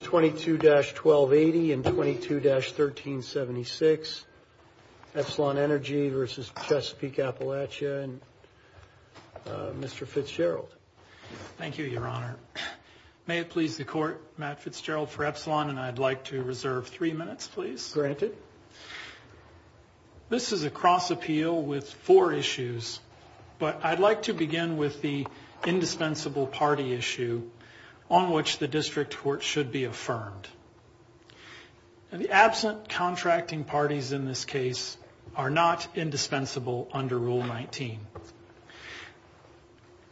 22-1280 and 22-1376Epsilon Energy vs. Chesapeake Appalachia and Mr. Fitzgerald. Thank you, Your Honor. May it please the Court, Matt Fitzgerald for Epsilon and I'd like to reserve three minutes, please. Granted. This is a cross appeal with four issues, but I'd like to begin with the indispensable party issue on which the District Court should be affirmed. The absent contracting parties in this case are not indispensable under Rule 19.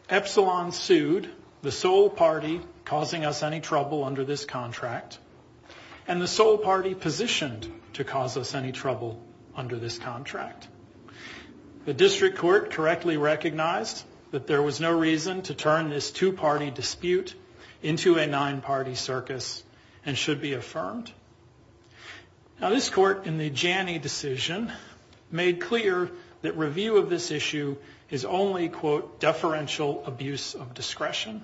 Epsilon sued the sole party causing us any trouble under this contract and the sole party positioned to cause us any trouble under this contract. The District Court correctly recognized that there was no reason to turn this two-party dispute into a nine-party circus and should be affirmed. Now, this Court in the Janney decision made clear that review of this issue is only, quote, deferential abuse of discretion.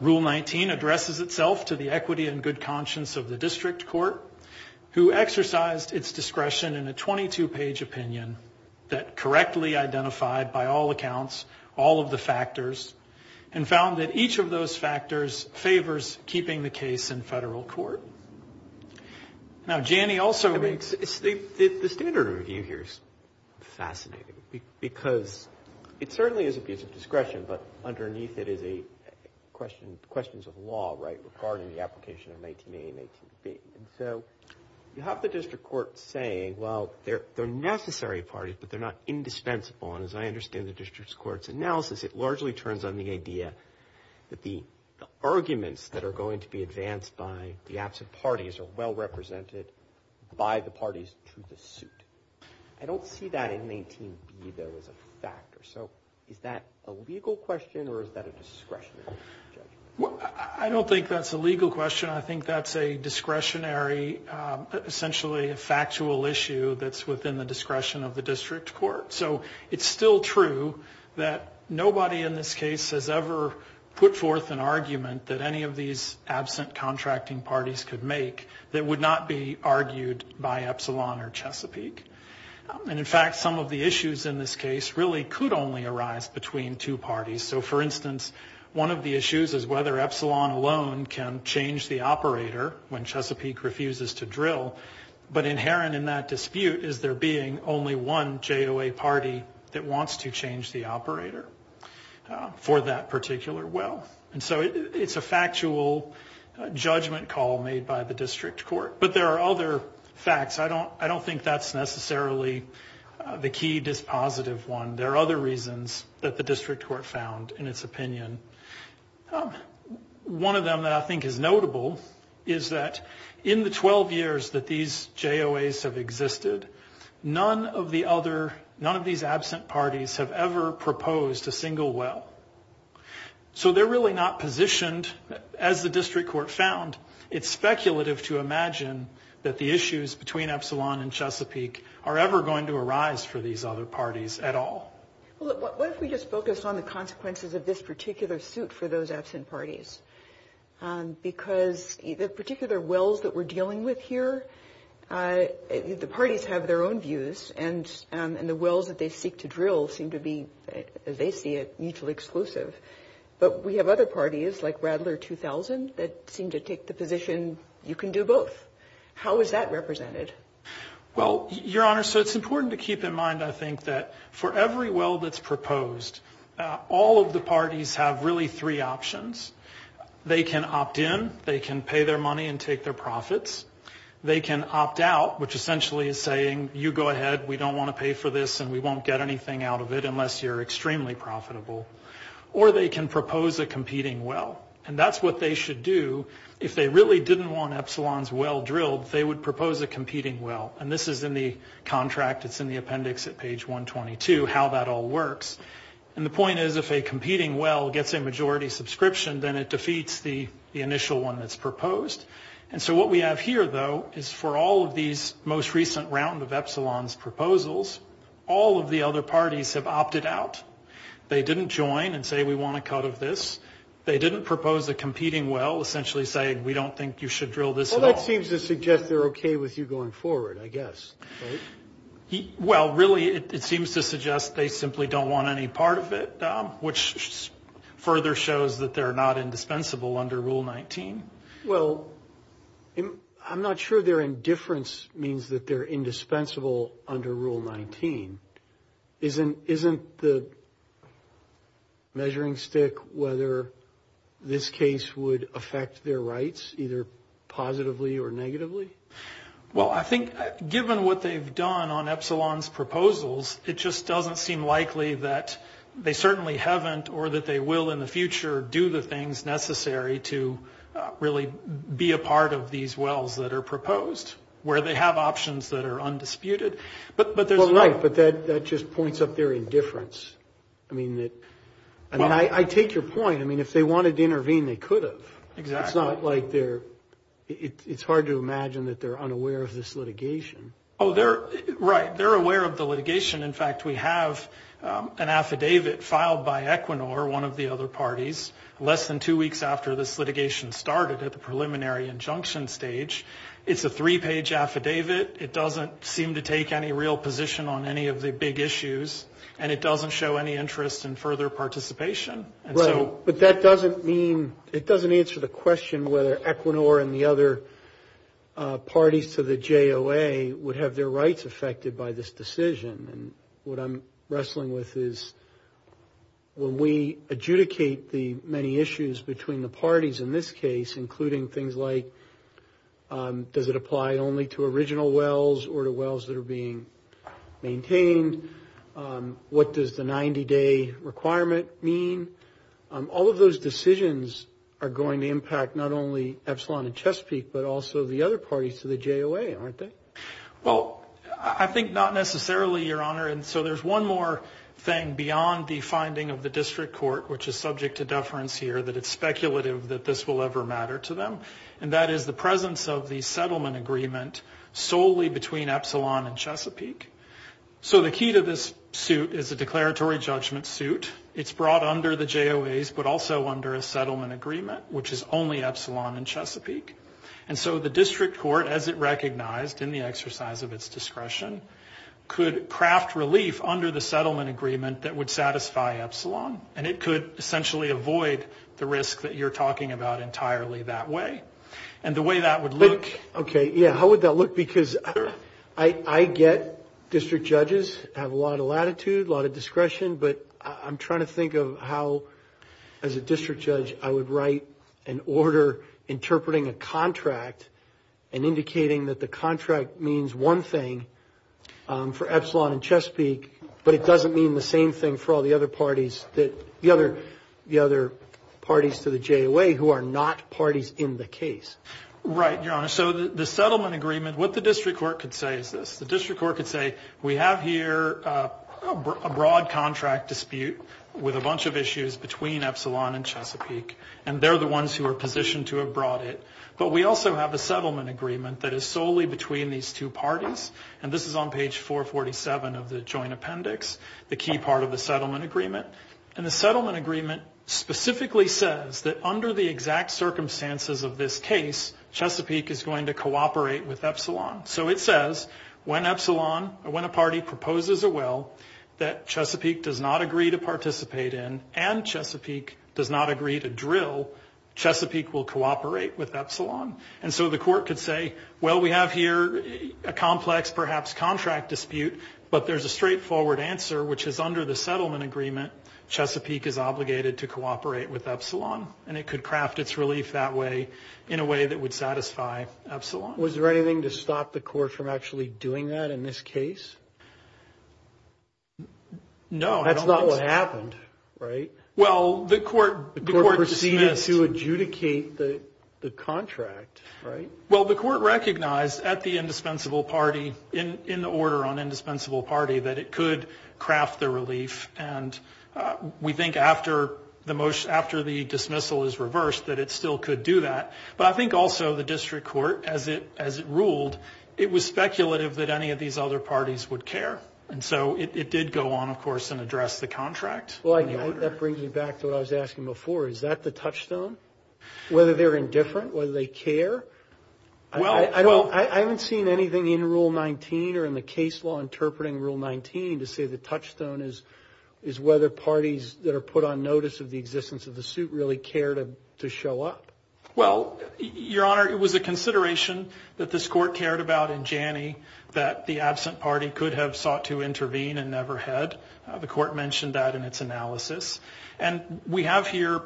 Rule 19 addresses itself to the equity and good conscience of the District Court who exercised its discretion in a 22-page opinion that correctly identified by all accounts all of the factors and found that each of those factors favors keeping the case in federal court. Now, Janney also makes... The standard review here is fascinating because it certainly is abuse of discretion, but underneath it is questions of law, right, regarding the application of 18a and 18b. And so you have the District Court saying, well, they're necessary parties, but they're not indispensable. And as I understand the District Court's analysis, it largely turns on the idea that the arguments that are going to be advanced by the absent parties are well represented by the parties to the suit. I don't see that in 18b, though, as a factor. So is that a legal question or is that a discretionary question? I don't think that's a legal question. I think that's a discretionary, essentially a factual issue that's within the discretion of the District Court. So it's still true that nobody in this case has ever put forth an argument that any of these absent contracting parties could make that would not be argued by Epsilon or Chesapeake. And, in fact, some of the issues in this case really could only arise between two parties. So, for instance, one of the issues is whether Epsilon alone can change the operator when Chesapeake refuses to drill, but inherent in that dispute is there being only one JOA party that wants to change the operator for that particular well. And so it's a factual judgment call made by the District Court. But there are other facts. I don't think that's necessarily the key dispositive one. There are other reasons that the District Court found in its opinion. One of them that I think is notable is that in the 12 years that these JOAs have existed, none of these absent parties have ever proposed a single well. So they're really not positioned, as the District Court found, it's speculative to imagine that the issues between Epsilon and Chesapeake are ever going to arise for these other parties at all. Well, what if we just focus on the consequences of this particular suit for those absent parties? Because the particular wells that we're dealing with here, the parties have their own views, and the wells that they seek to drill seem to be, as they see it, mutually exclusive. But we have other parties, like Radler 2000, that seem to take the position you can do both. How is that represented? Well, Your Honor, so it's important to keep in mind, I think, that for every well that's proposed, all of the parties have really three options. They can opt in. They can pay their money and take their profits. They can opt out, which essentially is saying, you go ahead, we don't want to pay for this, and we won't get anything out of it unless you're extremely profitable. Or they can propose a competing well. And that's what they should do. If they really didn't want Epsilon's well drilled, they would propose a competing well. And this is in the contract. It's in the appendix at page 122, how that all works. And the point is, if a competing well gets a majority subscription, then it defeats the initial one that's proposed. And so what we have here, though, is for all of these most recent round of Epsilon's proposals, all of the other parties have opted out. They didn't join and say, we want a cut of this. They didn't propose a competing well, essentially saying, we don't think you should drill this at all. Well, that seems to suggest they're okay with you going forward, I guess, right? Well, really, it seems to suggest they simply don't want any part of it, which further shows that they're not indispensable under Rule 19. Well, I'm not sure their indifference means that they're indispensable under Rule 19. Isn't the measuring stick whether this case would affect their rights, either positively or negatively? Well, I think given what they've done on Epsilon's proposals, it just doesn't seem likely that they certainly haven't, or that they will in the future, do the things necessary to really be a part of these wells that are proposed, where they have options that are undisputed. Well, right, but that just points up their indifference. I mean, I take your point. I mean, if they wanted to intervene, they could have. Exactly. It's not like they're – it's hard to imagine that they're unaware of this litigation. Oh, they're – right. They're aware of the litigation. In fact, we have an affidavit filed by Equinor, one of the other parties, less than two weeks after this litigation started at the preliminary injunction stage. It's a three-page affidavit. It doesn't seem to take any real position on any of the big issues, and it doesn't show any interest in further participation. Right, but that doesn't mean – it doesn't answer the question whether Equinor and the other parties to the JOA would have their rights affected by this decision. And what I'm wrestling with is when we adjudicate the many issues between the parties in this case, including things like does it apply only to original wells or to wells that are being maintained? What does the 90-day requirement mean? All of those decisions are going to impact not only Epsilon and Chesapeake, but also the other parties to the JOA, aren't they? Well, I think not necessarily, Your Honor. And so there's one more thing beyond the finding of the district court, which is subject to deference here that it's speculative that this will ever matter to them, and that is the presence of the settlement agreement solely between Epsilon and Chesapeake. So the key to this suit is a declaratory judgment suit. It's brought under the JOAs but also under a settlement agreement, which is only Epsilon and Chesapeake. And so the district court, as it recognized in the exercise of its discretion, could craft relief under the settlement agreement that would satisfy Epsilon, and it could essentially avoid the risk that you're talking about entirely that way. And the way that would look. Okay, yeah, how would that look? Because I get district judges have a lot of latitude, a lot of discretion, but I'm trying to think of how, as a district judge, I would write an order interpreting a contract and indicating that the contract means one thing for Epsilon and Chesapeake, but it doesn't mean the same thing for all the other parties to the JOA who are not parties in the case. Right, Your Honor. So the settlement agreement, what the district court could say is this. The district court could say, we have here a broad contract dispute with a bunch of issues between Epsilon and Chesapeake, and they're the ones who are positioned to have brought it, but we also have a settlement agreement that is solely between these two parties, and this is on page 447 of the joint appendix, the key part of the settlement agreement. And the settlement agreement specifically says that under the exact circumstances of this case, Chesapeake is going to cooperate with Epsilon. So it says when a party proposes a will that Chesapeake does not agree to participate in and Chesapeake does not agree to drill, Chesapeake will cooperate with Epsilon. And so the court could say, well, we have here a complex, perhaps, contract dispute, but there's a straightforward answer, which is under the settlement agreement, Chesapeake is obligated to cooperate with Epsilon, and it could craft its relief that way in a way that would satisfy Epsilon. Was there anything to stop the court from actually doing that in this case? No. That's not what happened, right? Well, the court, The court proceeded to adjudicate the contract, right? Well, the court recognized at the indispensable party, in the order on indispensable party, that it could craft the relief. And we think after the dismissal is reversed that it still could do that. But I think also the district court, as it ruled, it was speculative that any of these other parties would care. And so it did go on, of course, and address the contract. Well, that brings me back to what I was asking before. Is that the touchstone? Whether they're indifferent, whether they care? I haven't seen anything in Rule 19 or in the case law interpreting Rule 19 to say the touchstone is whether parties that are put on notice of the existence of the suit really care to show up. Well, Your Honor, it was a consideration that this court cared about in Janney that the absent party could have sought to intervene and never had. The court mentioned that in its analysis. And we have here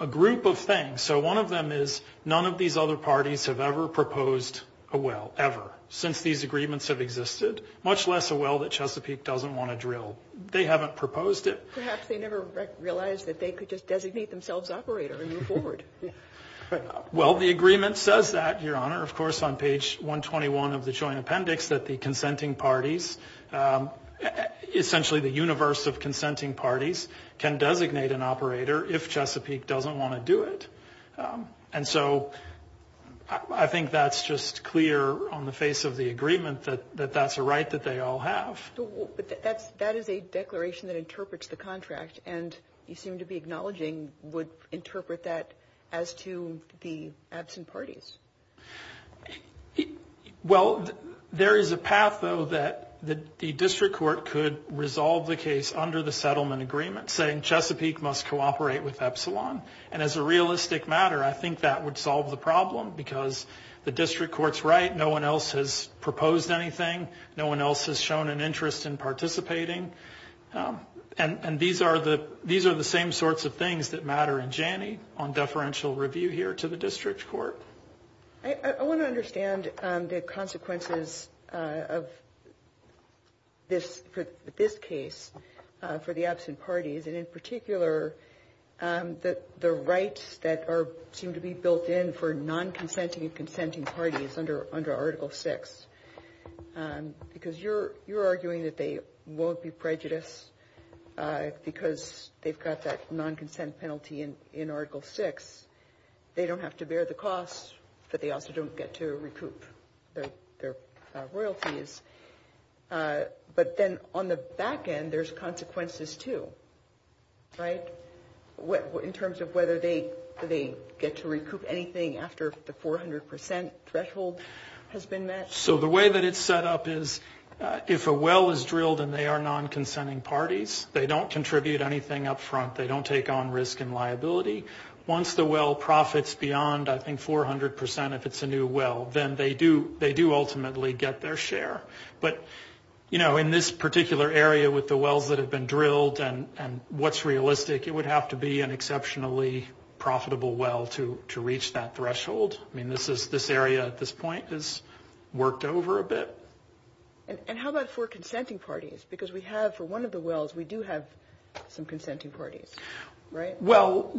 a group of things. So one of them is none of these other parties have ever proposed a will, ever, since these agreements have existed, much less a will that Chesapeake doesn't want to drill. They haven't proposed it. Perhaps they never realized that they could just designate themselves operator and move forward. Well, the agreement says that, Your Honor, of course, on page 121 of the joint appendix, that the consenting parties, essentially the universe of consenting parties, can designate an operator if Chesapeake doesn't want to do it. And so I think that's just clear on the face of the agreement that that's a right that they all have. But that is a declaration that interprets the contract, and you seem to be acknowledging would interpret that as to the absent parties. Well, there is a path, though, that the district court could resolve the case under the settlement agreement, saying Chesapeake must cooperate with Epsilon. And as a realistic matter, I think that would solve the problem because the district court's right. No one else has proposed anything. No one else has shown an interest in participating. And these are the same sorts of things that matter in Janney on deferential review here to the district court. I want to understand the consequences of this case for the absent parties, and in particular the rights that seem to be built in for non-consenting and consenting parties under Article VI. Because you're arguing that they won't be prejudiced because they've got that non-consent penalty in Article VI. They don't have to bear the cost, but they also don't get to recoup their royalties. But then on the back end, there's consequences too, right, in terms of whether they get to recoup anything after the 400% threshold has been met. So the way that it's set up is if a well is drilled and they are non-consenting parties, they don't contribute anything up front. They don't take on risk and liability. Once the well profits beyond, I think, 400% if it's a new well, then they do ultimately get their share. But, you know, in this particular area with the wells that have been drilled and what's realistic, it would have to be an exceptionally profitable well to reach that threshold. I mean, this area at this point is worked over a bit. And how about for consenting parties? Because we have, for one of the wells, we do have some consenting parties, right? Well,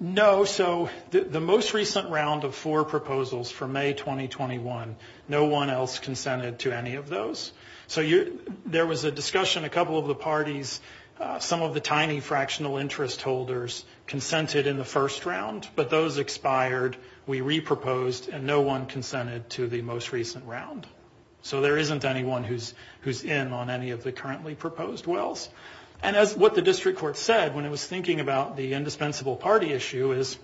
no, so the most recent round of four proposals for May 2021, no one else consented to any of those. So there was a discussion, a couple of the parties, some of the tiny fractional interest holders consented in the first round, but those expired, we reproposed, and no one consented to the most recent round. So there isn't anyone who's in on any of the currently proposed wells. And as what the district court said when it was thinking about the indispensable party issue is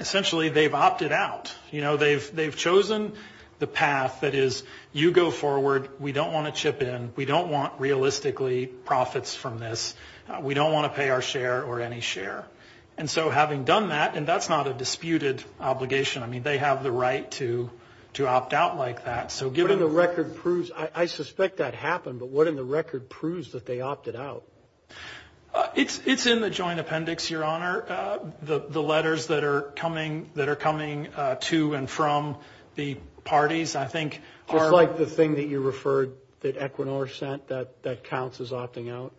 essentially they've opted out. You know, they've chosen the path that is you go forward, we don't want to chip in, we don't want realistically profits from this, we don't want to pay our share or any share. And so having done that, and that's not a disputed obligation. I mean, they have the right to opt out like that. So given the record proves, I suspect that happened, but what in the record proves that they opted out? It's in the joint appendix, Your Honor. The letters that are coming to and from the parties I think are. Just like the thing that you referred that Equinor sent that counts as opting out?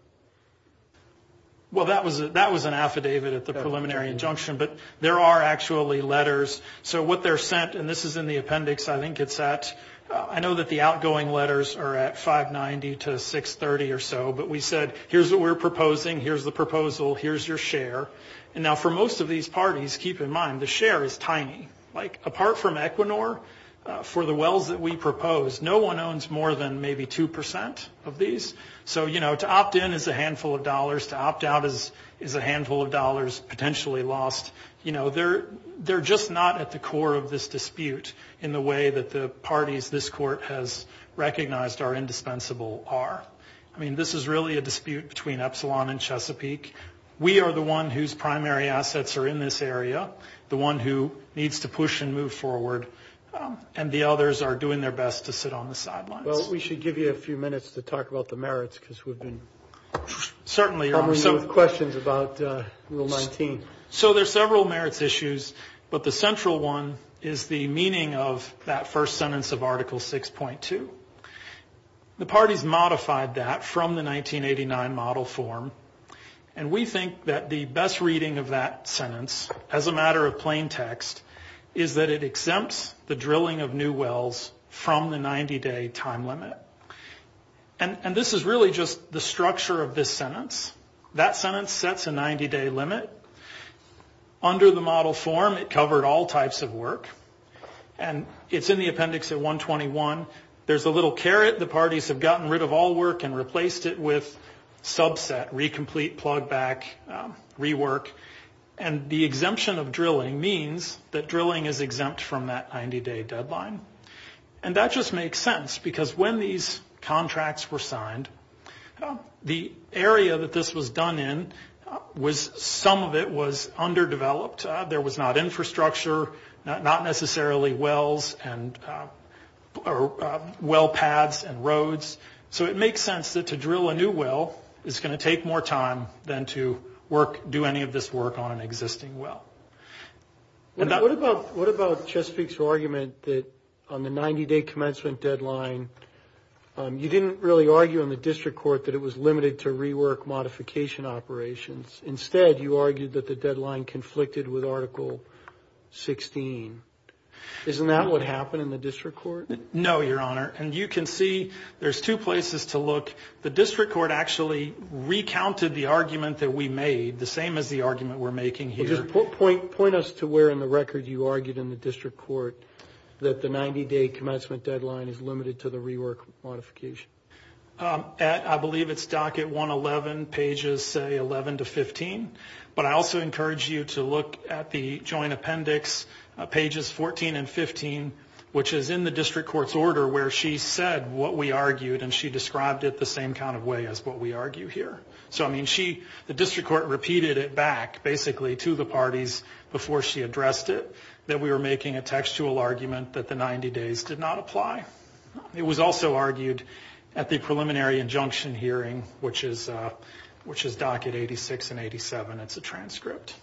Well, that was an affidavit at the preliminary injunction, but there are actually letters. So what they're sent, and this is in the appendix I think it's at, I know that the outgoing letters are at 590 to 630 or so, but we said here's what we're proposing, here's the proposal, here's your share. And now for most of these parties, keep in mind, the share is tiny. Like apart from Equinor, for the wells that we propose, no one owns more than maybe 2% of these. So, you know, to opt in is a handful of dollars, to opt out is a handful of dollars potentially lost. You know, they're just not at the core of this dispute in the way that the parties this Court has recognized are indispensable are. I mean, this is really a dispute between Epsilon and Chesapeake. We are the one whose primary assets are in this area, the one who needs to push and move forward, and the others are doing their best to sit on the sidelines. Well, we should give you a few minutes to talk about the merits, because we've been coming in with questions about Rule 19. So there's several merits issues, but the central one is the meaning of that first sentence of Article 6.2. The parties modified that from the 1989 model form, and we think that the best reading of that sentence, as a matter of plain text, is that it exempts the drilling of new wells from the 90-day time limit. And this is really just the structure of this sentence. That sentence sets a 90-day limit. Under the model form, it covered all types of work, and it's in the appendix at 121. There's a little caret. The parties have gotten rid of all work and replaced it with subset, re-complete, plug back, rework. And the exemption of drilling means that drilling is exempt from that 90-day deadline. And that just makes sense, because when these contracts were signed, the area that this was done in, some of it was underdeveloped. There was not infrastructure, not necessarily wells and well paths and roads. So it makes sense that to drill a new well is going to take more time than to do any of this work on an existing well. What about Chesapeake's argument that on the 90-day commencement deadline, you didn't really argue in the district court that it was limited to rework modification operations. Instead, you argued that the deadline conflicted with Article 16. Isn't that what happened in the district court? No, Your Honor. And you can see there's two places to look. The district court actually recounted the argument that we made, the same as the argument we're making here. Well, just point us to where in the record you argued in the district court that the 90-day commencement deadline is limited to the rework modification. I believe it's docket 111, pages, say, 11 to 15. But I also encourage you to look at the joint appendix, pages 14 and 15, which is in the district court's order where she said what we argued, and she described it the same kind of way as what we argue here. So, I mean, the district court repeated it back, basically, to the parties before she addressed it, that we were making a textual argument that the 90 days did not apply. It was also argued at the preliminary injunction hearing, which is docket 86 and 87. It's a transcript.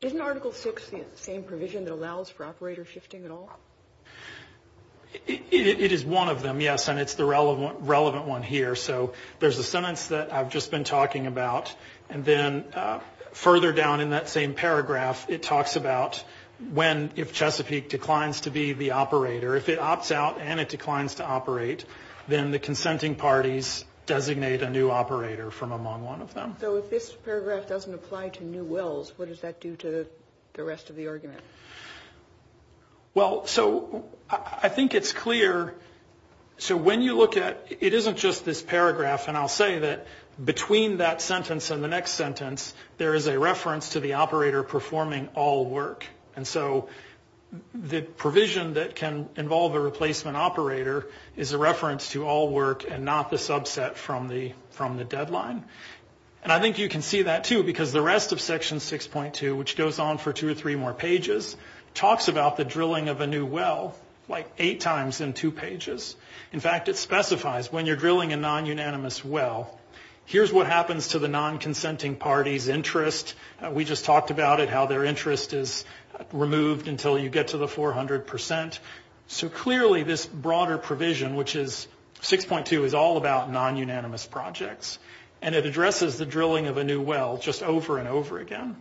Isn't Article 6 the same provision that allows for operator shifting at all? It is one of them, yes, and it's the relevant one here. So there's a sentence that I've just been talking about, and then further down in that same paragraph it talks about when, if Chesapeake declines to be the operator, if it opts out and it declines to operate, then the consenting parties designate a new operator from among one of them. So if this paragraph doesn't apply to new wills, what does that do to the rest of the argument? Well, so I think it's clear. So when you look at it, it isn't just this paragraph, and I'll say that between that sentence and the next sentence, there is a reference to the operator performing all work. And so the provision that can involve a replacement operator is a reference to all work and not the subset from the deadline. And I think you can see that, too, because the rest of Section 6.2, which goes on for two or three more pages, talks about the drilling of a new will like eight times in two pages. In fact, it specifies when you're drilling a non-unanimous will, here's what happens to the non-consenting party's interest. We just talked about it, how their interest is removed until you get to the 400%. So clearly this broader provision, which is 6.2, is all about non-unanimous projects, and it addresses the drilling of a new will just over and over again.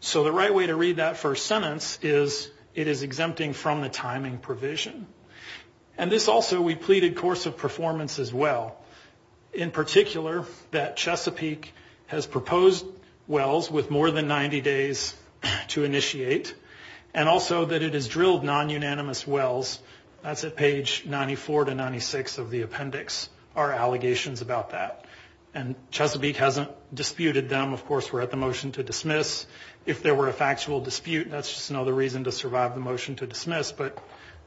So the right way to read that first sentence is it is exempting from the timing provision. And this also, we pleaded course of performance as well, in particular that Chesapeake has proposed wills with more than 90 days to initiate and also that it has drilled non-unanimous wills. That's at page 94 to 96 of the appendix, our allegations about that. And Chesapeake hasn't disputed them. Of course, we're at the motion to dismiss. If there were a factual dispute, that's just another reason to survive the motion to dismiss, but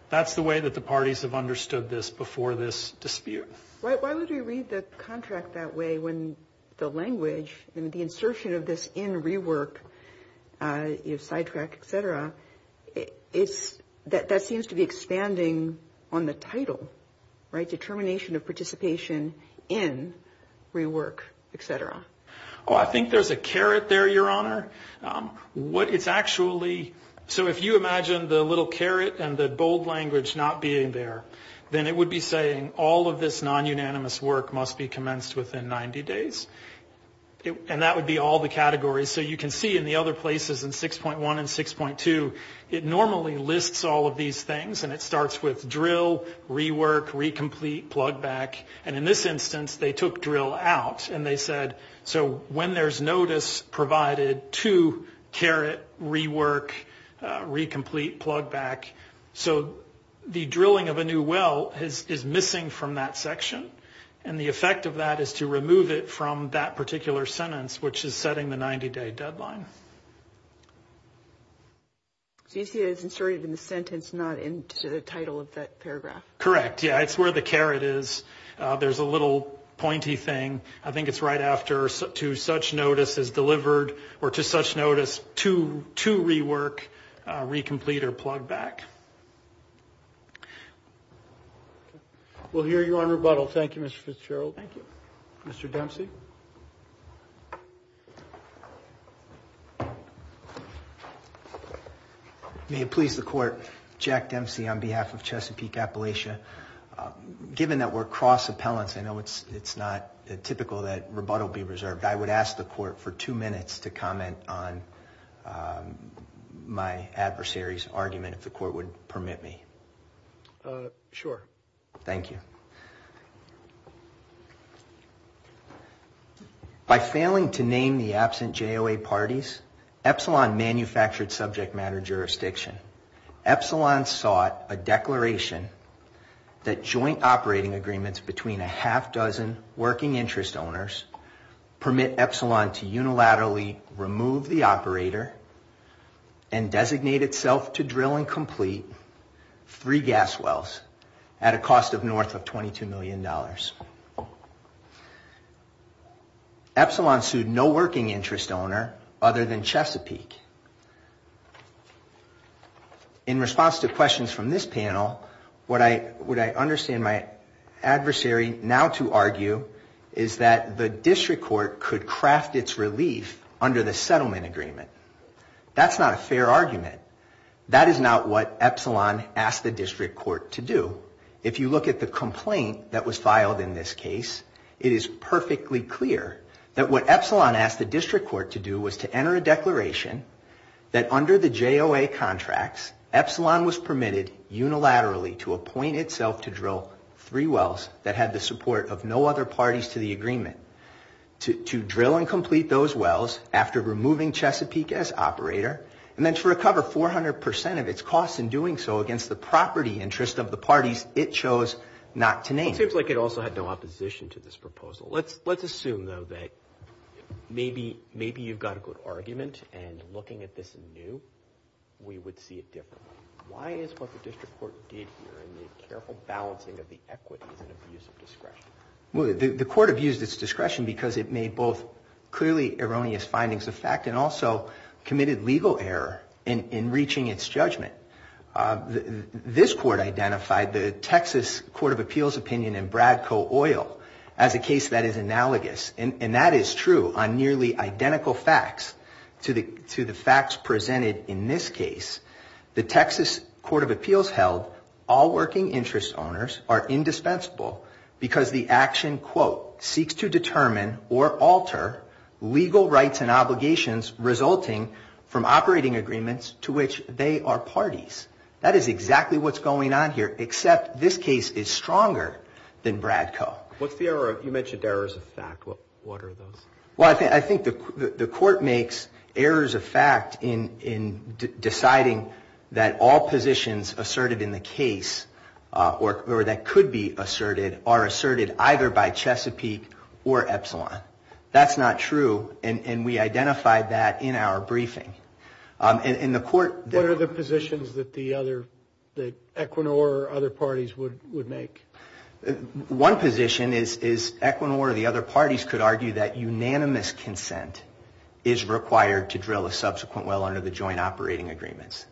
that's the way that the parties have understood this before this dispute. Why would we read the contract that way when the language and the insertion of this in rework, you know, sidetrack, et cetera, that seems to be expanding on the title, right, determination of participation in rework, et cetera. Oh, I think there's a carrot there, Your Honor. What it's actually, so if you imagine the little carrot and the bold language not being there, then it would be saying all of this non-unanimous work must be commenced within 90 days. And that would be all the categories. So you can see in the other places in 6.1 and 6.2, it normally lists all of these things, and it starts with drill, rework, re-complete, plug back. And in this instance, they took drill out, and they said, so when there's notice provided to carrot, rework, re-complete, plug back. So the drilling of a new well is missing from that section, and the effect of that is to remove it from that particular sentence, which is setting the 90-day deadline. So you see it's inserted in the sentence, not in the title of that paragraph. Correct, yeah, it's where the carrot is. There's a little pointy thing. I think it's right after to such notice as delivered or to such notice to rework, re-complete, or plug back. We'll hear you on rebuttal. Thank you, Mr. Fitzgerald. Thank you. Mr. Dempsey. May it please the Court, Jack Dempsey on behalf of Chesapeake Appalachia. Given that we're cross appellants, I know it's not typical that rebuttal be reserved. I would ask the Court for two minutes to comment on my adversary's argument, if the Court would permit me. Sure. Thank you. By failing to name the absent JOA parties, Epsilon manufactured subject matter jurisdiction. Epsilon sought a declaration that joint operating agreements between a half-dozen working interest owners permit Epsilon to unilaterally remove the operator and designate itself to drill and complete three gas wells at a cost of north of $22 million. Epsilon sued no working interest owner other than Chesapeake. In response to questions from this panel, what I understand my adversary now to argue is that the District Court could craft its relief under the settlement agreement. That's not a fair argument. That is not what Epsilon asked the District Court to do. If you look at the complaint that was filed in this case, it is perfectly clear that what Epsilon asked the District Court to do was to enter a declaration that under the JOA contracts, Epsilon was permitted unilaterally to appoint itself to drill three wells that had the support of no other parties to the agreement, to drill and complete those wells after removing Chesapeake as operator, and then to recover 400 percent of its costs in doing so against the property interest of the parties it chose not to name. It seems like it also had no opposition to this proposal. Let's assume, though, that maybe you've got a good argument, and looking at this anew, we would see it differently. Why is what the District Court did here in the careful balancing of the equities and abuse of discretion? The court abused its discretion because it made both clearly erroneous findings of fact and also committed legal error in reaching its judgment. This court identified the Texas Court of Appeals opinion in Bradco Oil as a case that is analogous, and that is true on nearly identical facts to the facts presented in this case. The Texas Court of Appeals held all working interest owners are indispensable because the action, quote, seeks to determine or alter legal rights and obligations resulting from operating agreements to which they are parties. That is exactly what's going on here, except this case is stronger than Bradco. What's the error? You mentioned errors of fact. What are those? Well, I think the court makes errors of fact in deciding that all positions asserted in the case, or that could be asserted, are asserted either by Chesapeake or Epsilon. That's not true, and we identified that in our briefing. And the court... What are the positions that the other, that Equinor or other parties would make? One position is Equinor or the other parties could argue that unanimous consent is required to drill a subsequent well under the joint operating agreements.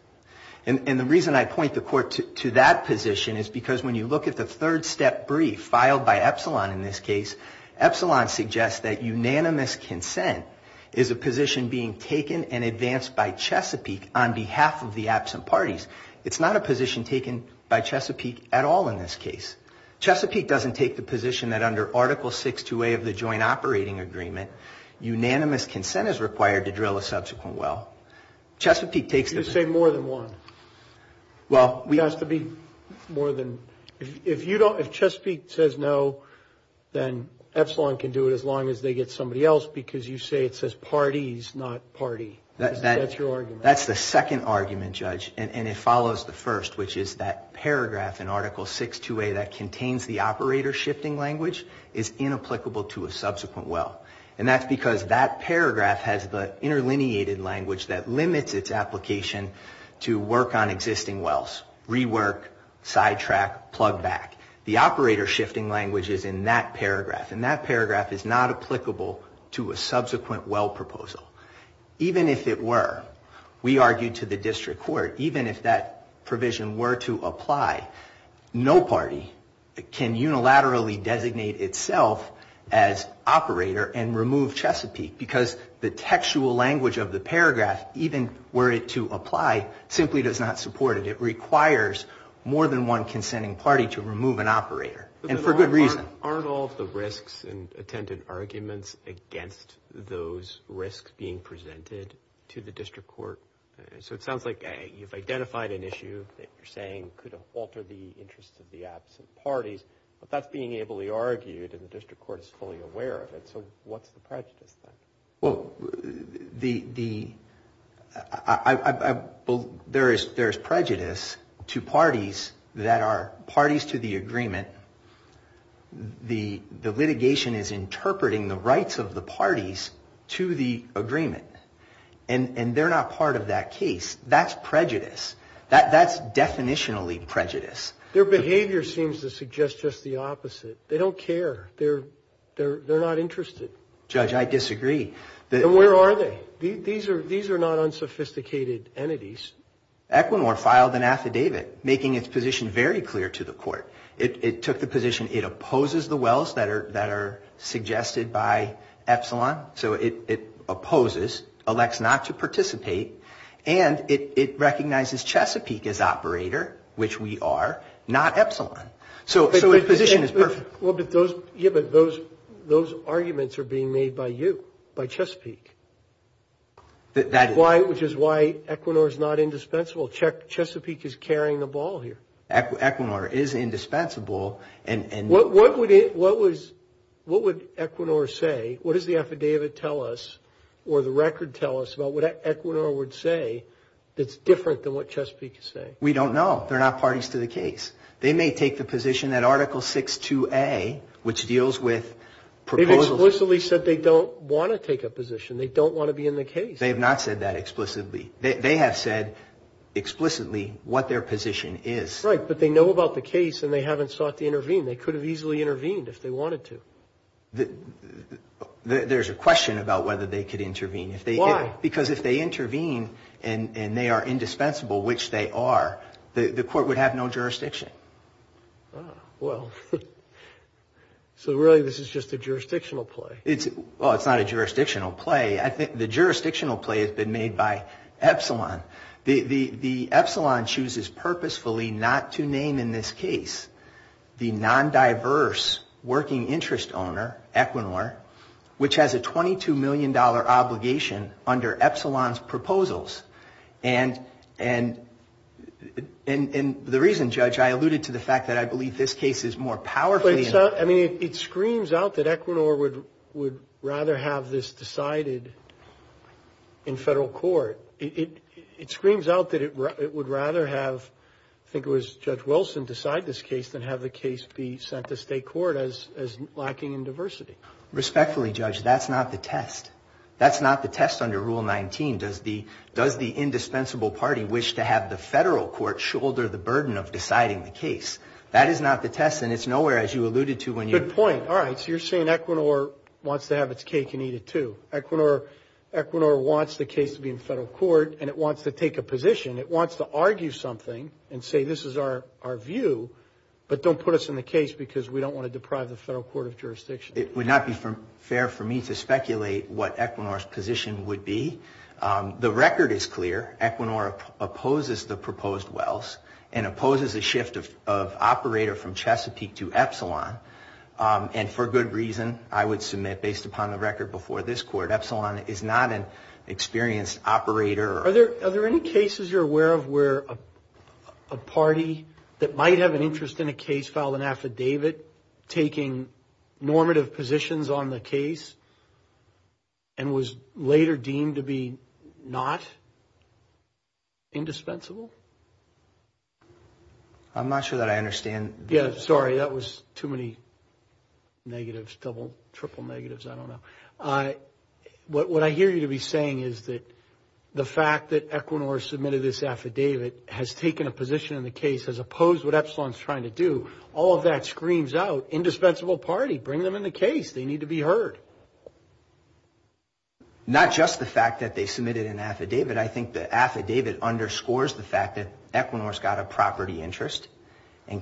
And the reason I point the court to that position is because when you look at the third-step brief filed by Epsilon in this case, Epsilon suggests that unanimous consent is a position being taken and advanced by Chesapeake on behalf of the absent parties. It's not a position taken by Chesapeake at all in this case. Chesapeake doesn't take the position that under Article 6-2A of the joint operating agreement, unanimous consent is required to drill a subsequent well. Chesapeake takes the... You say more than one. Well, we... It has to be more than... If you don't, if Chesapeake says no, then Epsilon can do it as long as they get somebody else, because you say it says parties, not party. That's your argument. And it follows the first, which is that paragraph in Article 6-2A that contains the operator shifting language is inapplicable to a subsequent well. And that's because that paragraph has the interlineated language that limits its application to work on existing wells, rework, sidetrack, plug back. The operator shifting language is in that paragraph, and that paragraph is not applicable to a subsequent well proposal. Even if it were, we argued to the district court, even if that provision were to apply, no party can unilaterally designate itself as operator and remove Chesapeake, because the textual language of the paragraph, even were it to apply, simply does not support it. It requires more than one consenting party to remove an operator, and for good reason. Aren't all of the risks and attempted arguments against those risks being presented to the district court? So it sounds like you've identified an issue that you're saying could alter the interests of the absent parties, but that's being ably argued, and the district court is fully aware of it, so what's the prejudice then? Well, the, I, there is prejudice to parties that are parties to the agreement, the litigation is interpreting the rights of the parties to the agreement, and they're not part of that case. That's prejudice. That's definitionally prejudice. Their behavior seems to suggest just the opposite. They don't care. They're not interested. Judge, I disagree. Then where are they? These are not unsophisticated entities. Equinor filed an affidavit making its position very clear to the court. It took the position it opposes the wells that are suggested by Epsilon, so it opposes, elects not to participate, and it recognizes Chesapeake as operator, which we are, not Epsilon. So its position is perfect. Yeah, but those arguments are being made by you, by Chesapeake. Why, which is why Equinor is not indispensable. Chesapeake is carrying the ball here. Equinor is indispensable. What would Equinor say, what does the affidavit tell us, or the record tell us about what Equinor would say that's different than what Chesapeake would say? We don't know. They're not parties to the case. They may take the position that Article 6.2a, which deals with proposals. They've explicitly said they don't want to take a position. They don't want to be in the case. They have not said that explicitly. They have said explicitly what their position is. Right, but they know about the case and they haven't sought to intervene. They could have easily intervened if they wanted to. There's a question about whether they could intervene. Why? Because if they intervene and they are indispensable, which they are, the court would have no jurisdiction. So really this is just a jurisdictional play. Well, it's not a jurisdictional play. The jurisdictional play has been made by Epsilon. The Epsilon chooses purposefully not to name in this case the non-diverse working interest owner, Equinor, which has a $22 million obligation under Epsilon's proposals. And the reason, Judge, I alluded to the fact that I believe this case is more powerful. I mean, it screams out that Equinor would rather have this decided in federal court. It screams out that it would rather have, I think it was Judge Wilson, decide this case than have the case be sent to state court as lacking in diversity. Respectfully, Judge, that's not the test. That's not the test under Rule 19. Does the indispensable party wish to have the federal court shoulder the burden of deciding the case? That is not the test and it's nowhere, as you alluded to, when you're... It wants to take a position. It wants to argue something and say, this is our view, but don't put us in the case because we don't want to deprive the federal court of jurisdiction. It would not be fair for me to speculate what Equinor's position would be. The record is clear. Equinor opposes the proposed Wells and opposes a shift of operator from Chesapeake to Epsilon. And for good reason, I would submit, based upon the record before this Court, Epsilon is not an experienced operator. Are there any cases you're aware of where a party that might have an interest in a case filed an affidavit taking normative positions on the case and was later deemed to be not indispensable? Yeah, sorry, that was too many negatives, double, triple negatives, I don't know. What I hear you to be saying is that the fact that Equinor submitted this affidavit has taken a position in the case, has opposed what Epsilon is trying to do. All of that screams out, indispensable party, bring them in the case. They need to be heard. Not just the fact that they submitted an affidavit. I think the affidavit underscores the fact that there is a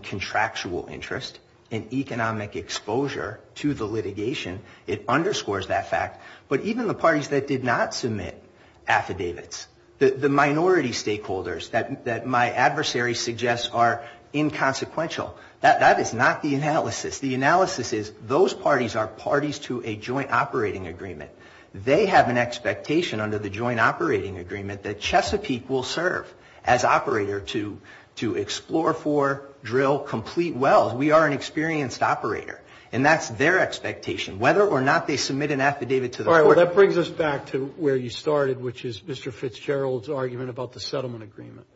contractual interest in economic exposure to the litigation. It underscores that fact. But even the parties that did not submit affidavits, the minority stakeholders that my adversary suggests are inconsequential. That is not the analysis. The analysis is those parties are parties to a joint operating agreement. They have an expectation under the joint operating agreement that Chesapeake will serve as operator to explore for, drill, complete wells. We are an experienced operator. And that's their expectation, whether or not they submit an affidavit to the court. That brings us back to where you started, which is Mr. Fitzgerald's argument about the settlement agreement.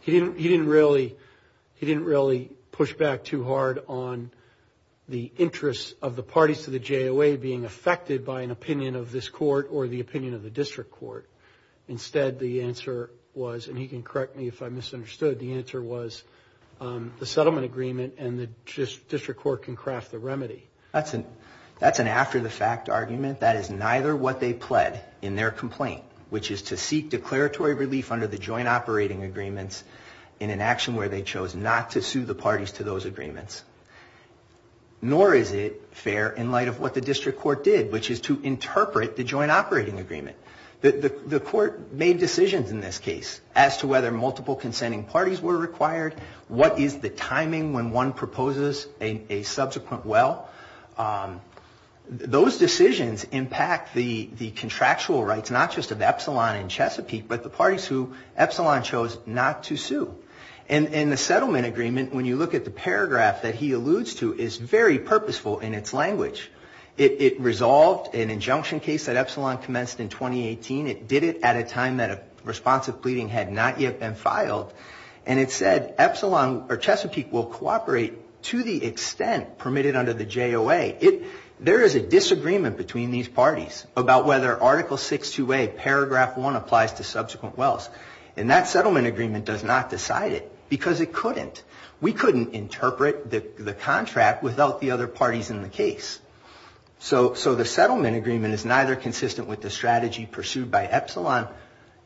He didn't really push back too hard on the interest of the parties to the JOA being affected by an opinion of this court or the opinion of the district court. Instead, the answer was, and he can correct me if I misunderstood, the answer was the settlement agreement and the district court can craft the remedy. That's an after-the-fact argument. That is neither what they pled in their complaint, which is to seek declaratory relief under the joint operating agreements in an action where they chose not to sue the parties to those agreements, nor is it fair in light of what the district court did, which is to interpret the joint operating agreement. The court made decisions in this case as to whether multiple consenting parties were required, what is the timing when one proposes a subsequent well. Those decisions impact the contractual rights not just of Epsilon and Chesapeake, but the parties who Epsilon chose not to sue. And the settlement agreement, when you look at the paragraph that he alludes to, is very purposeful in its language. It resolved an injunction case that Epsilon commenced in 2018. It did it at a time that a responsive pleading had not yet been filed. And it said, Epsilon or Chesapeake will cooperate to the extent permitted under the JOA. There is a disagreement between these parties about whether Article 628, Paragraph 1, applies to subsequent wells. And that settlement agreement does not decide it, because it couldn't. We couldn't interpret the contract without the other parties in the case. So the settlement agreement is neither consistent with the strategy pursued by Epsilon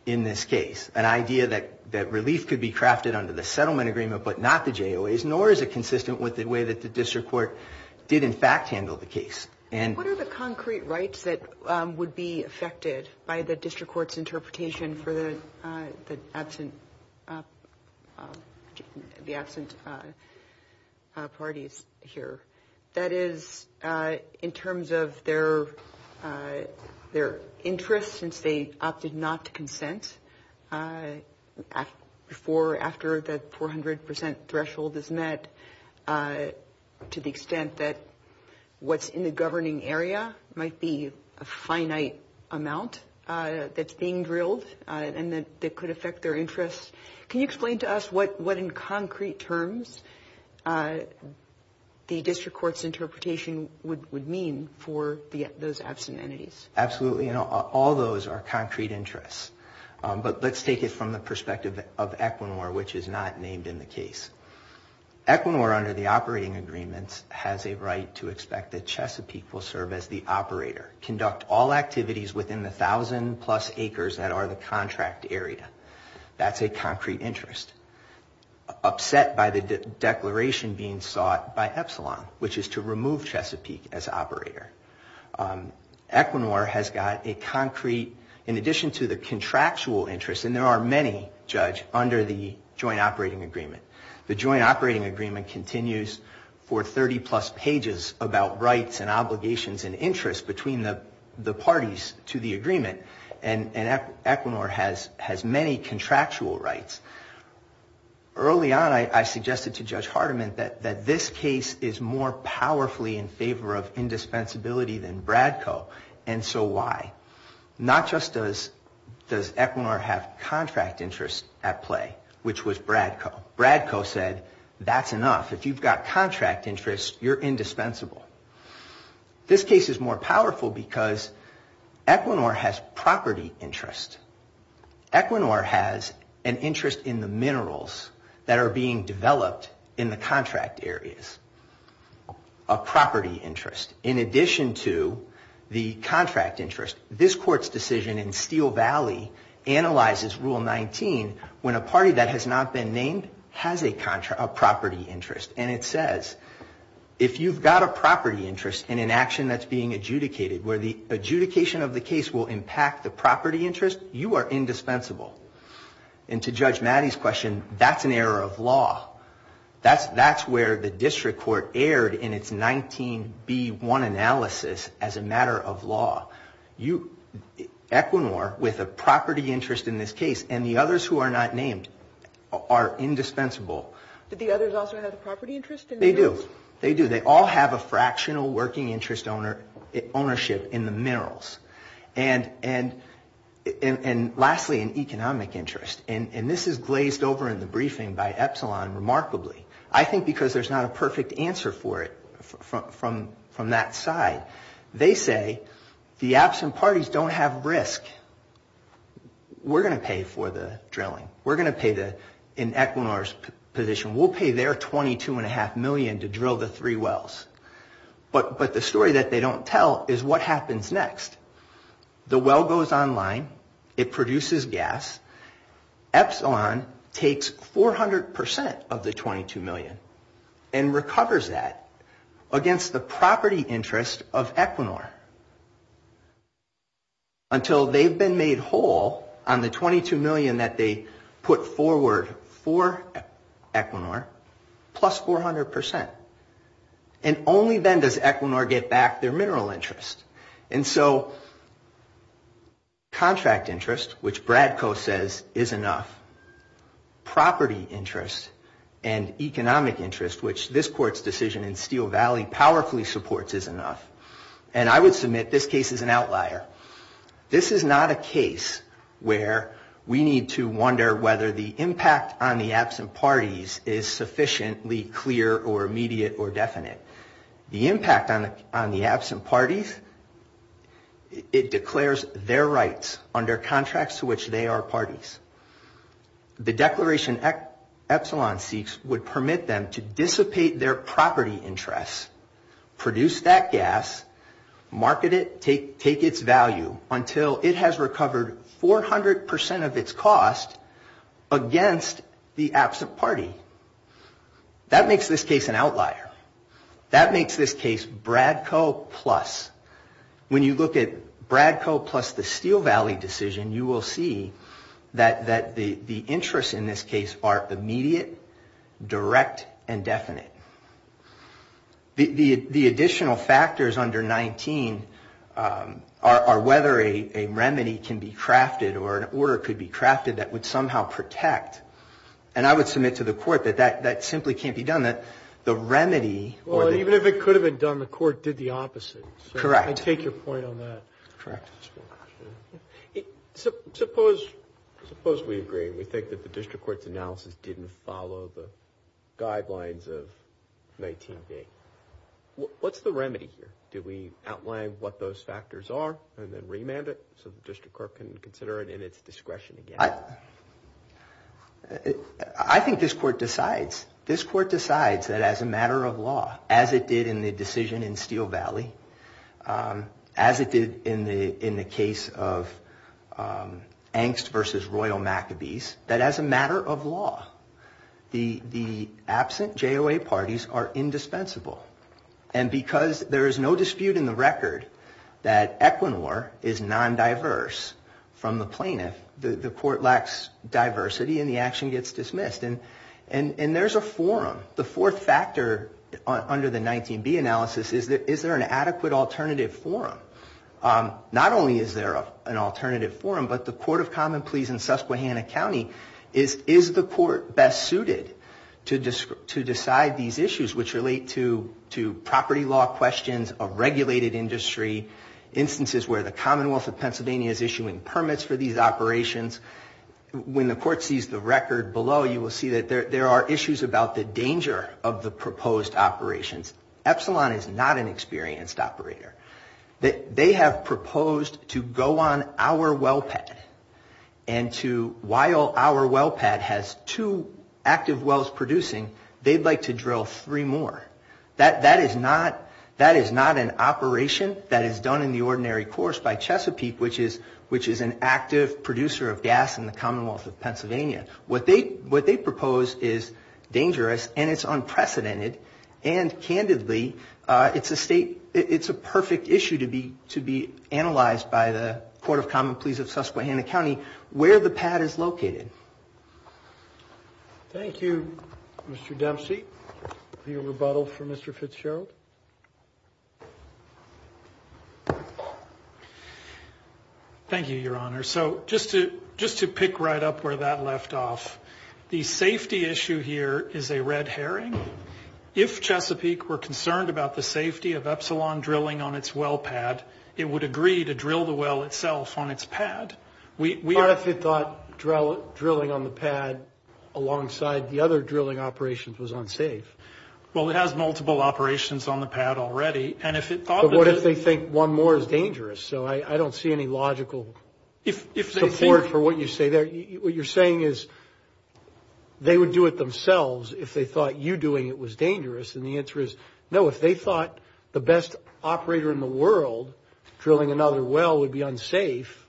in this case, an idea that relief could be crafted under the settlement agreement but not the JOAs, nor is it consistent with the way that the district court did in fact handle the case. What are the concrete rights that would be affected by the district court's interpretation for the absent parties here? That is, in terms of their interest, since they opted not to consent, after the 400 percent threshold is met, to the extent that what's in the government governing area might be a finite amount that's being drilled and that could affect their interest, can you explain to us what in concrete terms the district court's interpretation would mean for those absent entities? Absolutely. All those are concrete interests. But let's take it from the perspective of Equinor, which is not named in the case. Equinor, under the operating agreements, has a right to expect that Chesapeake will serve as the operator, conduct all activities within the 1,000 plus acres that are the contract area. That's a concrete interest. Upset by the declaration being sought by Epsilon, which is to remove Chesapeake as operator. Equinor has got a concrete, in addition to the contractual interest, and there are many, Judge, under the joint operating agreement. The joint operating agreement continues for 30 plus pages about rights and obligations and interests between the parties to the agreement, and Equinor has many contractual rights. Early on I suggested to Judge Hardiman that this case is more powerfully in favor of indispensability than Bradco, and so why? Not just does Equinor have contract interest at play, which was Bradco. Bradco said, that's enough. If you've got contract interest, you're indispensable. This case is more powerful because Equinor has property interest. Equinor has an interest in the minerals that are being developed in the contract areas. A property interest, in addition to the contract interest. This Court's decision in Steel Valley analyzes Rule 19 when a party that has not been named has a property interest. And it says, if you've got a property interest in an action that's being adjudicated, where the adjudication of the case will impact the property interest, you are indispensable. And to Judge Maddy's question, that's an error of law. That's where the District Court erred in its 19B1 analysis as a matter of law. Equinor, with a property interest in this case, and the others who are not named, are indispensable. Did the others also have a property interest? They do. They all have a fractional working interest ownership in the minerals. And lastly, an economic interest. And this is glazed over in the briefing by Epsilon remarkably. I think because there's not a perfect answer for it from that side. They say, the absent parties don't have risk. We're going to pay for the drilling. We're going to pay, in Equinor's position, we'll pay their $22.5 million to drill the three wells. But the story that they don't tell is what happens next. The well goes online. It produces gas. Epsilon takes 400% of the $22 million and recovers that against the property interest of Equinor. Until they've been made whole on the $22 million that they put forward for Equinor, plus 400%. And only then does Equinor get back their mineral interest. And so contract interest, which Bradco says, is enough. Property interest and economic interest, which this Court's decision in Steel Valley powerfully supports, is enough. And I would submit this case is an outlier. This is not a case where we need to wonder whether the impact on the absent parties is sufficiently clear or immediate or definite. The impact on the absent parties, it declares their rights under contracts to which they are parties. The declaration Epsilon seeks would permit them to dissipate their property interests, produce that gas, market it, take its value until it has recovered 400% of its cost against the absent party. That makes this case an outlier. That makes this case Bradco plus. When you look at Bradco plus the Steel Valley decision, you will see that the interests in this case are immediate, direct, and definite. The additional factors under 19 are whether a remedy can be crafted or an order could be crafted that would somehow protect. And I would submit to the Court that that simply can't be done. The remedy or the... Well, even if it could have been done, the Court did the opposite. Correct. I take your point on that. Correct. Suppose we agree and we think that the District Court's analysis didn't follow the guidelines of 19B. What's the remedy here? Do we outline what those factors are and then remand it so the District Court can consider it in its discretion again? I think this Court decides. This Court decides that as a matter of law, as it did in the decision in Steel Valley, as it did in the case of Angst v. Royal Maccabees, that as a matter of law, the absent JOA parties are indispensable. And because there is no dispute in the record that Equinor is non-diverse from the plaintiff, the Court lacks diversity and the action gets dismissed. And there's a forum. The fourth factor under the 19B analysis is, is there an adequate alternative forum? Not only is there an alternative forum, but the Court of Common Pleas in Susquehanna County is, is the Court best suited to decide these issues which relate to property law questions of regulated industry, instances where the Commonwealth of Pennsylvania is issuing permits for these operations? When the Court sees the record below, you will see that there are issues about the danger of the proposed operations. Epsilon is not an experienced operator. They have proposed to go on our well pad and to, while our well pad has two active wells producing, they'd like to drill three more. That is not an operation that is done in the ordinary course by Chesapeake, which is an active producer of gas in the Commonwealth of Pennsylvania. What they propose is dangerous and it's unprecedented. And candidly, it's a state, it's a perfect issue to be, to be analyzed by the Court of Common Pleas of Susquehanna County where the pad is located. Thank you, Mr. Dempsey. Thank you, Your Honor. So just to, just to pick right up where that left off. The safety issue here is a red herring. If Chesapeake were concerned about the safety of Epsilon drilling on its well pad, it would agree to drill the well itself on its pad. But what if it thought drilling on the pad alongside the other drilling operations was unsafe? Well, it has multiple operations on the pad already. But what if they think one more is dangerous? So I don't see any logical support for what you say there. What you're saying is they would do it themselves if they thought you doing it was dangerous. And the answer is no. If they thought the best operator in the world drilling another well would be unsafe,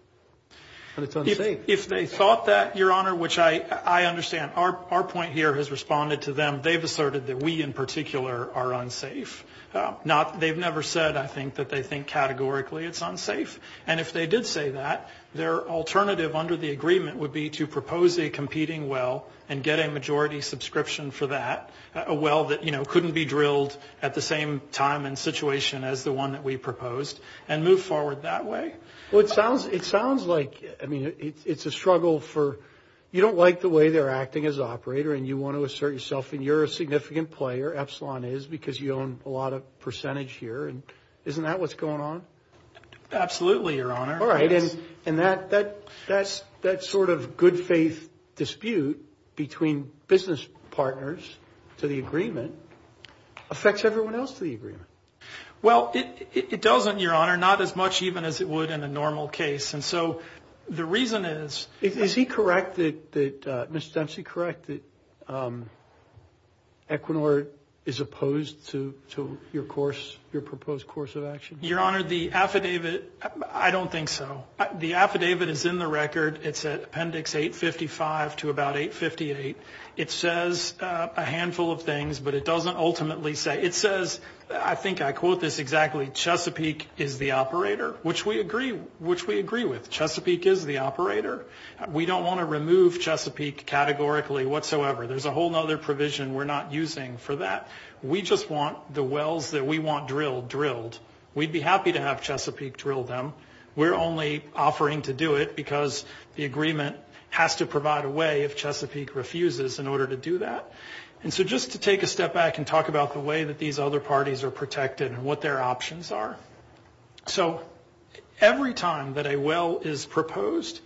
then it's unsafe. If they thought that, Your Honor, which I understand, our point here has responded to them. They've asserted that we in particular are unsafe. They've never said, I think, that they think categorically it's unsafe. And if they did say that, their alternative under the agreement would be to propose a competing well and get a majority subscription for that. A well that, you know, couldn't be drilled at the same time and situation as the one that we proposed and move forward that way. Well, it sounds like, I mean, it's a struggle for, you don't like the way they're acting as operator and you want to assert yourself. And you're a significant player, Epsilon is, because you own a lot of percentage here. And isn't that what's going on? Absolutely, Your Honor. All right. And that sort of good faith dispute between business partners to the agreement affects everyone else to the agreement. Well, it doesn't, Your Honor, not as much even as it would in a normal case. And so the reason is... Is he correct that, Ms. Dempsey, correct, that Equinor is opposed to your course, your proposed course of action? Your Honor, the affidavit, I don't think so. The affidavit is in the record. It's at Appendix 855 to about 858. It says a handful of things, but it doesn't ultimately say. It says, I think I quote this exactly, Chesapeake is the operator, which we agree with. Chesapeake is the operator. We don't want to remove Chesapeake categorically whatsoever. There's a whole other provision we're not using for that. We just want the wells that we want drilled, drilled. We'd be happy to have Chesapeake drill them. We're only offering to do it because the agreement has to provide a way if Chesapeake refuses in order to do that. And so just to take a step back and talk about the way that these other parties are protected and what their options are. So every time that a well is proposed,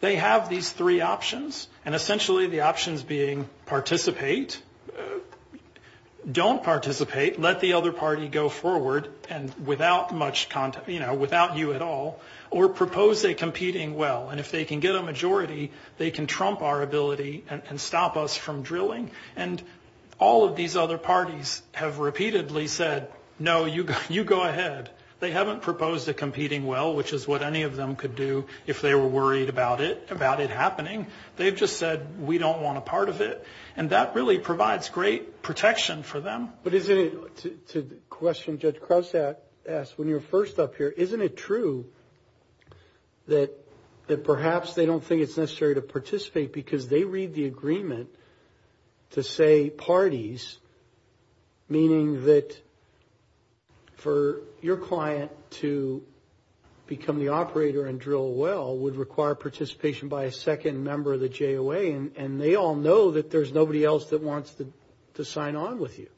they have these three options. And essentially the options being participate, don't participate, let the other party go forward, and without you at all, or propose a competing well. And if they can get a majority, they can trump our ability and stop us from drilling. And all of these other parties have repeatedly said, no, you go ahead. They haven't proposed a competing well, which is what any of them could do if they were worried about it happening. They've just said, we don't want a part of it. And that really provides great protection for them. But isn't it, to the question Judge Krause asked when you were first up here, isn't it true that perhaps they don't think it's necessary to participate because they read the agreement to say parties, meaning that for your client to become the operator and drill a well would require participation by a second member of the JOA. And they all know that there's nobody else that wants to sign on with you.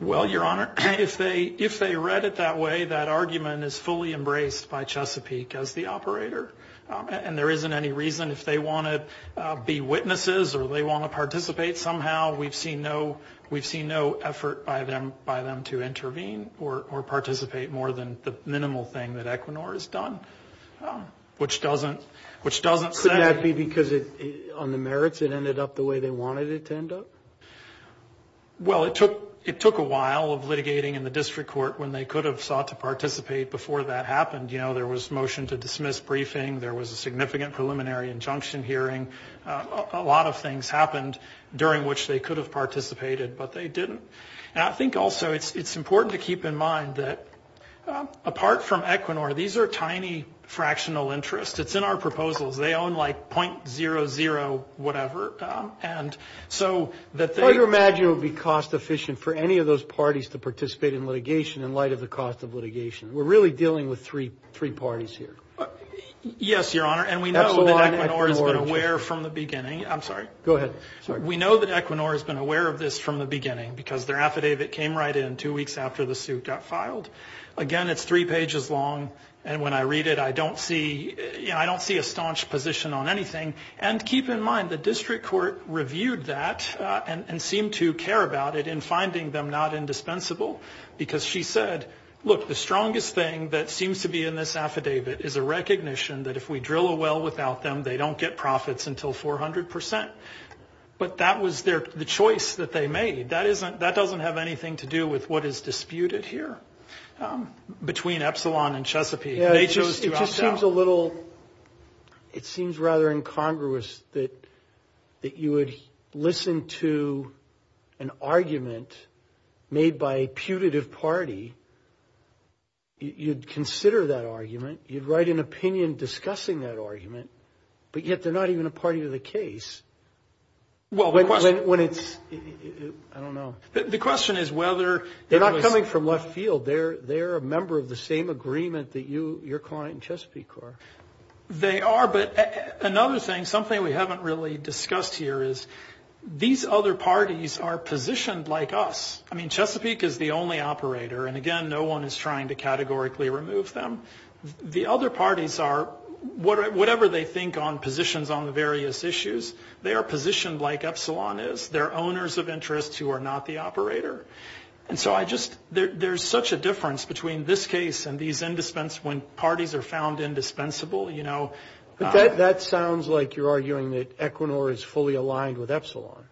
Well, Your Honor, if they read it that way, that argument is fully embraced by Chesapeake as the operator. And there isn't any reason if they want to be witnesses or they want to participate somehow, we've seen no effort by them to intervene or participate more than the minimal thing that Equinor has done. Which doesn't say... Could that be because on the merits it ended up the way they wanted it to end up? Well, it took a while of litigating in the district court when they could have sought to participate before that happened. You know, there was motion to dismiss briefing, there was a significant preliminary injunction hearing. A lot of things happened during which they could have participated, but they didn't. And I think also it's important to keep in mind that apart from Equinor, these are tiny fractional interests. It's in our proposals. They own like .00 whatever, and so that they... How do you imagine it would be cost efficient for any of those parties to participate in litigation in light of the cost of litigation? We're really dealing with three parties here. Yes, Your Honor, and we know that Equinor has been aware of this from the beginning. Because their affidavit came right in two weeks after the suit got filed. Again, it's three pages long, and when I read it, I don't see a staunch position on anything. And keep in mind, the district court reviewed that and seemed to care about it in finding them not indispensable. Because she said, look, the strongest thing that seems to be in this affidavit is a recognition that if we drill a well without them, they don't get profits until 400%. But that was the choice that they made. That doesn't have anything to do with what is disputed here between Epsilon and Chesapeake. They chose to opt out. It sounds a little... It seems rather incongruous that you would listen to an argument made by a putative party, you'd consider that argument, you'd write an opinion discussing that argument, but yet they're not even a party to the case. I don't know. The question is whether... They're not coming from left field. They're a member of the same agreement that your client and Chesapeake are. They are, but another thing, something we haven't really discussed here is these other parties are positioned like us. I mean, Chesapeake is the only operator, and again, no one is trying to categorically remove them. The other parties are, whatever they think on positions on the various issues, they are positioned like Epsilon is. They're owners of interests who are not the operator. There's such a difference between this case and when parties are found indispensable. But that sounds like you're arguing that Equinor is fully aligned with Epsilon.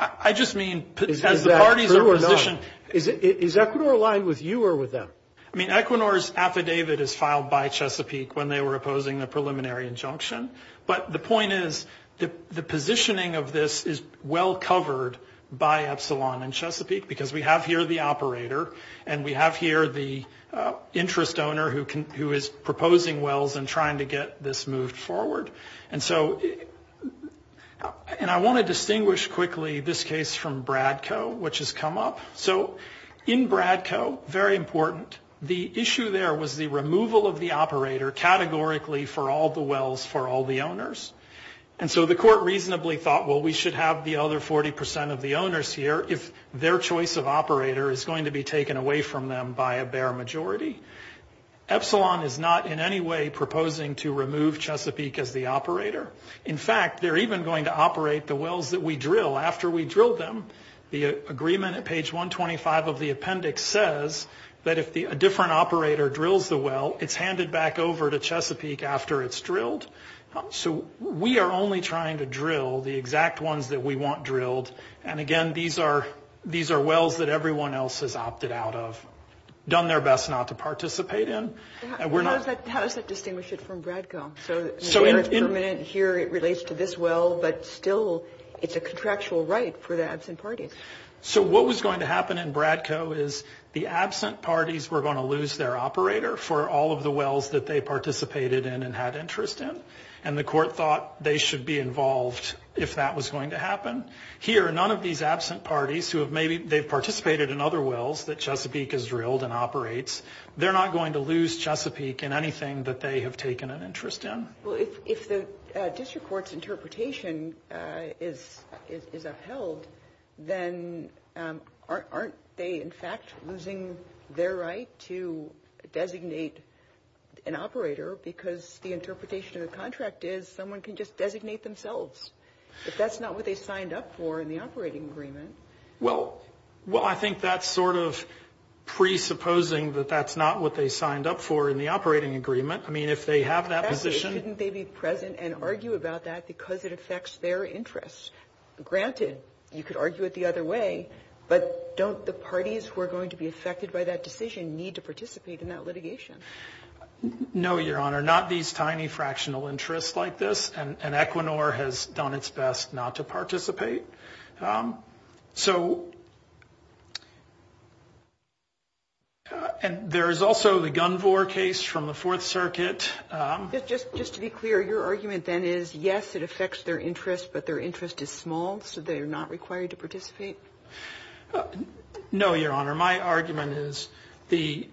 I just mean as the parties are positioned... Is that true or no? Is Equinor aligned with you or with them? I mean, Equinor's affidavit is filed by Chesapeake when they were opposing the preliminary injunction, but the point is the positioning of this is well covered by Epsilon and Chesapeake, because we have here the operator and we have here the interest owner who is proposing wells and trying to get this moved forward. And I want to distinguish quickly this case from Bradco, which has come up. In Bradco, very important, the issue there was the removal of the operator categorically for all the wells for all the owners. And so the court reasonably thought, well, we should have the other 40 percent of the owners here if their choice of operator is going to be taken away from them by a bare majority. Epsilon is not in any way proposing to remove Chesapeake as the operator. In fact, they're even going to operate the wells that we drill after we drill them. The agreement at page 125 of the appendix says that if a different operator drills the well, it's handed back over to Chesapeake after it's drilled. So we are only trying to drill the exact ones that we want drilled. And, again, these are wells that everyone else has opted out of, done their best not to participate in. And we're not... So what was going to happen in Bradco is the absent parties were going to lose their operator for all of the wells that they participated in and had interest in. And the court thought they should be involved if that was going to happen. Here, none of these absent parties who have maybe... They've participated in other wells that Chesapeake has drilled and operates. They're not going to lose Chesapeake in anything that they have taken an interest in. Well, if the district court's interpretation is upheld, then aren't they, in fact, losing their right to designate an operator because the interpretation of the contract is someone can just designate themselves if that's not what they signed up for in the operating agreement? Well, I think that's sort of presupposing that that's not what they signed up for in the operating agreement. I mean, if they have that position... You could argue it the other way, but don't the parties who are going to be affected by that decision need to participate in that litigation? No, Your Honor, not these tiny fractional interests like this. And Equinor has done its best not to participate. So... And there is also the Gunvor case from the Fourth Circuit. Just to be clear, your argument then is, yes, it affects their interest, but their interest is small, so they're not required to participate? No, Your Honor. My argument is the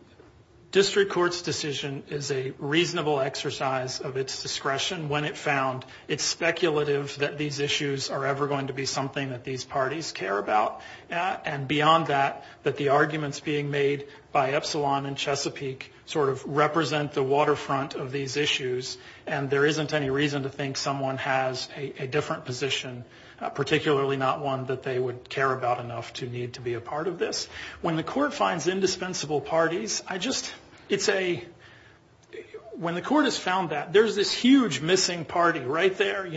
district court's decision is a reasonable exercise of its discretion when it found it's speculative that these issues are ever going to be something that these parties care about. And beyond that, that the arguments being made by Epsilon and Chesapeake sort of represent the waterfront of these issues, and there isn't any reason to think someone has a different position, particularly not one that they would care about enough to need to be a part of this. When the court finds indispensable parties, I just... When the court has found that, there's this huge missing party right there.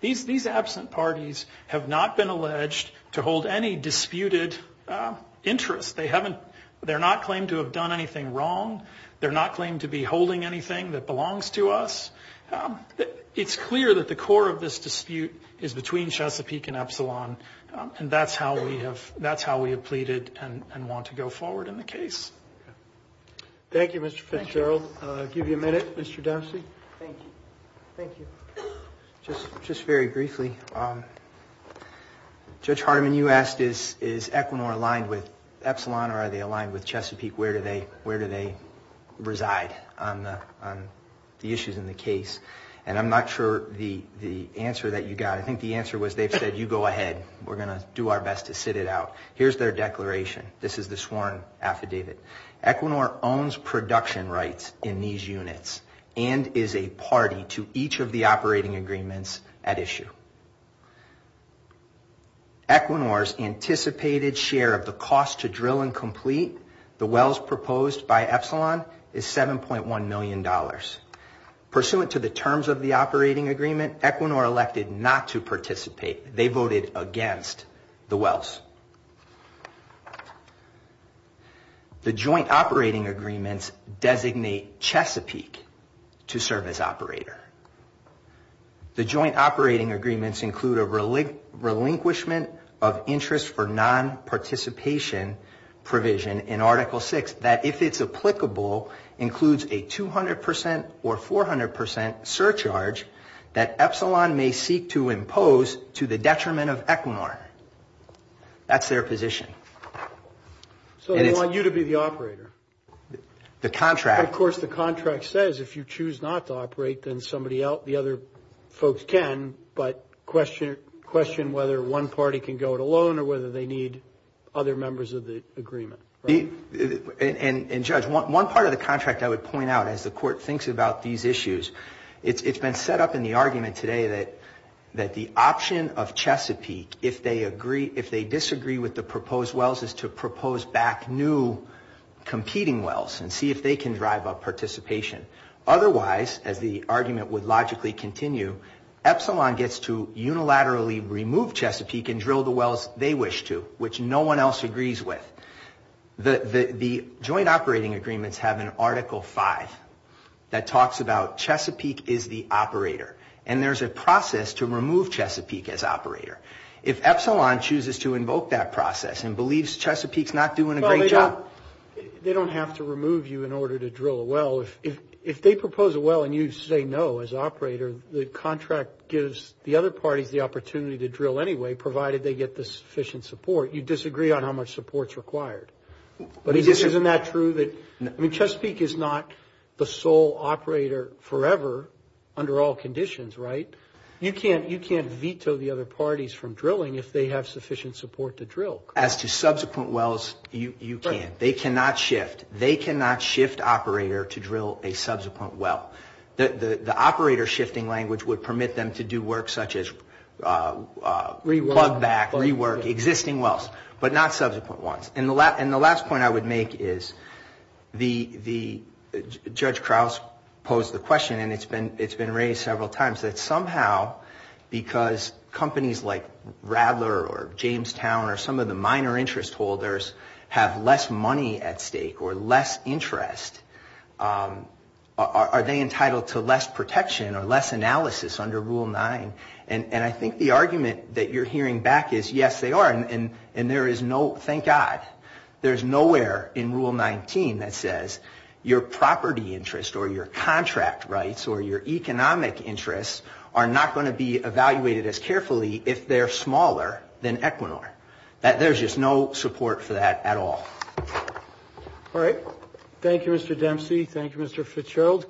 These absent parties have not been alleged to hold any disputed interests. They're not claimed to have done anything wrong. They're not claimed to be holding anything that belongs to us. It's clear that the core of this dispute is between Chesapeake and Epsilon, and that's how we have pleaded and want to go forward in the case. Thank you, Mr. Fitzgerald. I'll give you a minute, Mr. Dempsey. Thank you. Just very briefly, Judge Hardiman, you asked, is Equinor aligned with Epsilon or are they aligned with Chesapeake? Where do they reside on the issues in the case? And I'm not sure the answer that you got. I think the answer was they've said, you go ahead, we're going to do our best to sit it out. Here's their declaration. This is the sworn affidavit. Equinor's anticipated share of the cost to drill and complete the wells proposed by Epsilon is $7.1 million. Pursuant to the terms of the operating agreement, Equinor elected not to participate. They voted against the wells. The joint operating agreements designate Chesapeake to serve as operator. The joint operating agreements include a relinquishment of interest for non-participation provision in Article 6 that, if it's applicable, includes a 200% or 400% surcharge that Epsilon may seek to impose to the Chesapeake to the detriment of Equinor. That's their position. So they want you to be the operator. Of course, the contract says if you choose not to operate, then the other folks can, but question whether one party can go it alone or whether they need other members of the agreement. And, Judge, one part of the contract I would point out, as the Court thinks about these issues, it's been set up in the argument today that the option of Chesapeake, if they disagree with the proposed wells, is to propose back new competing wells and see if they can drive up participation. Otherwise, as the argument would logically continue, Epsilon gets to unilaterally remove Chesapeake and drill the wells they wish to, which no one else agrees with. The joint operating agreements have an Article 5 that talks about Chesapeake is the operator, and there's a process to remove Chesapeake as operator. If Epsilon chooses to invoke that process and believes Chesapeake's not doing a great job... They don't have to remove you in order to drill a well. Well, if they propose a well and you say no as operator, the contract gives the other parties the opportunity to drill anyway, provided they get the sufficient support. You disagree on how much support's required. I mean, Chesapeake is not the sole operator forever under all conditions, right? You can't veto the other parties from drilling if they have sufficient support to drill. As to subsequent wells, you can't. They cannot shift operator to drill a subsequent well. The operator shifting language would permit them to do work such as plug back, rework existing wells, but not subsequent ones. And the last point I would make is, Judge Krause posed the question, and it's been raised several times, that somehow, because companies like Radler or Jamestown or some of the minor interest holders have less money at stake or less interest, are they entitled to less protection or less analysis under Rule 9? And I think the argument that you're hearing back is, yes, they are, and there is no... Thank God. There's nowhere in Rule 19 that says your property interest or your contract rights or your economic interests are not going to be evaluated as carefully if they're smaller than Equinor. There's just no support for that at all. All right. Thank you, Mr. Dempsey. Thank you, Mr. Fitzgerald.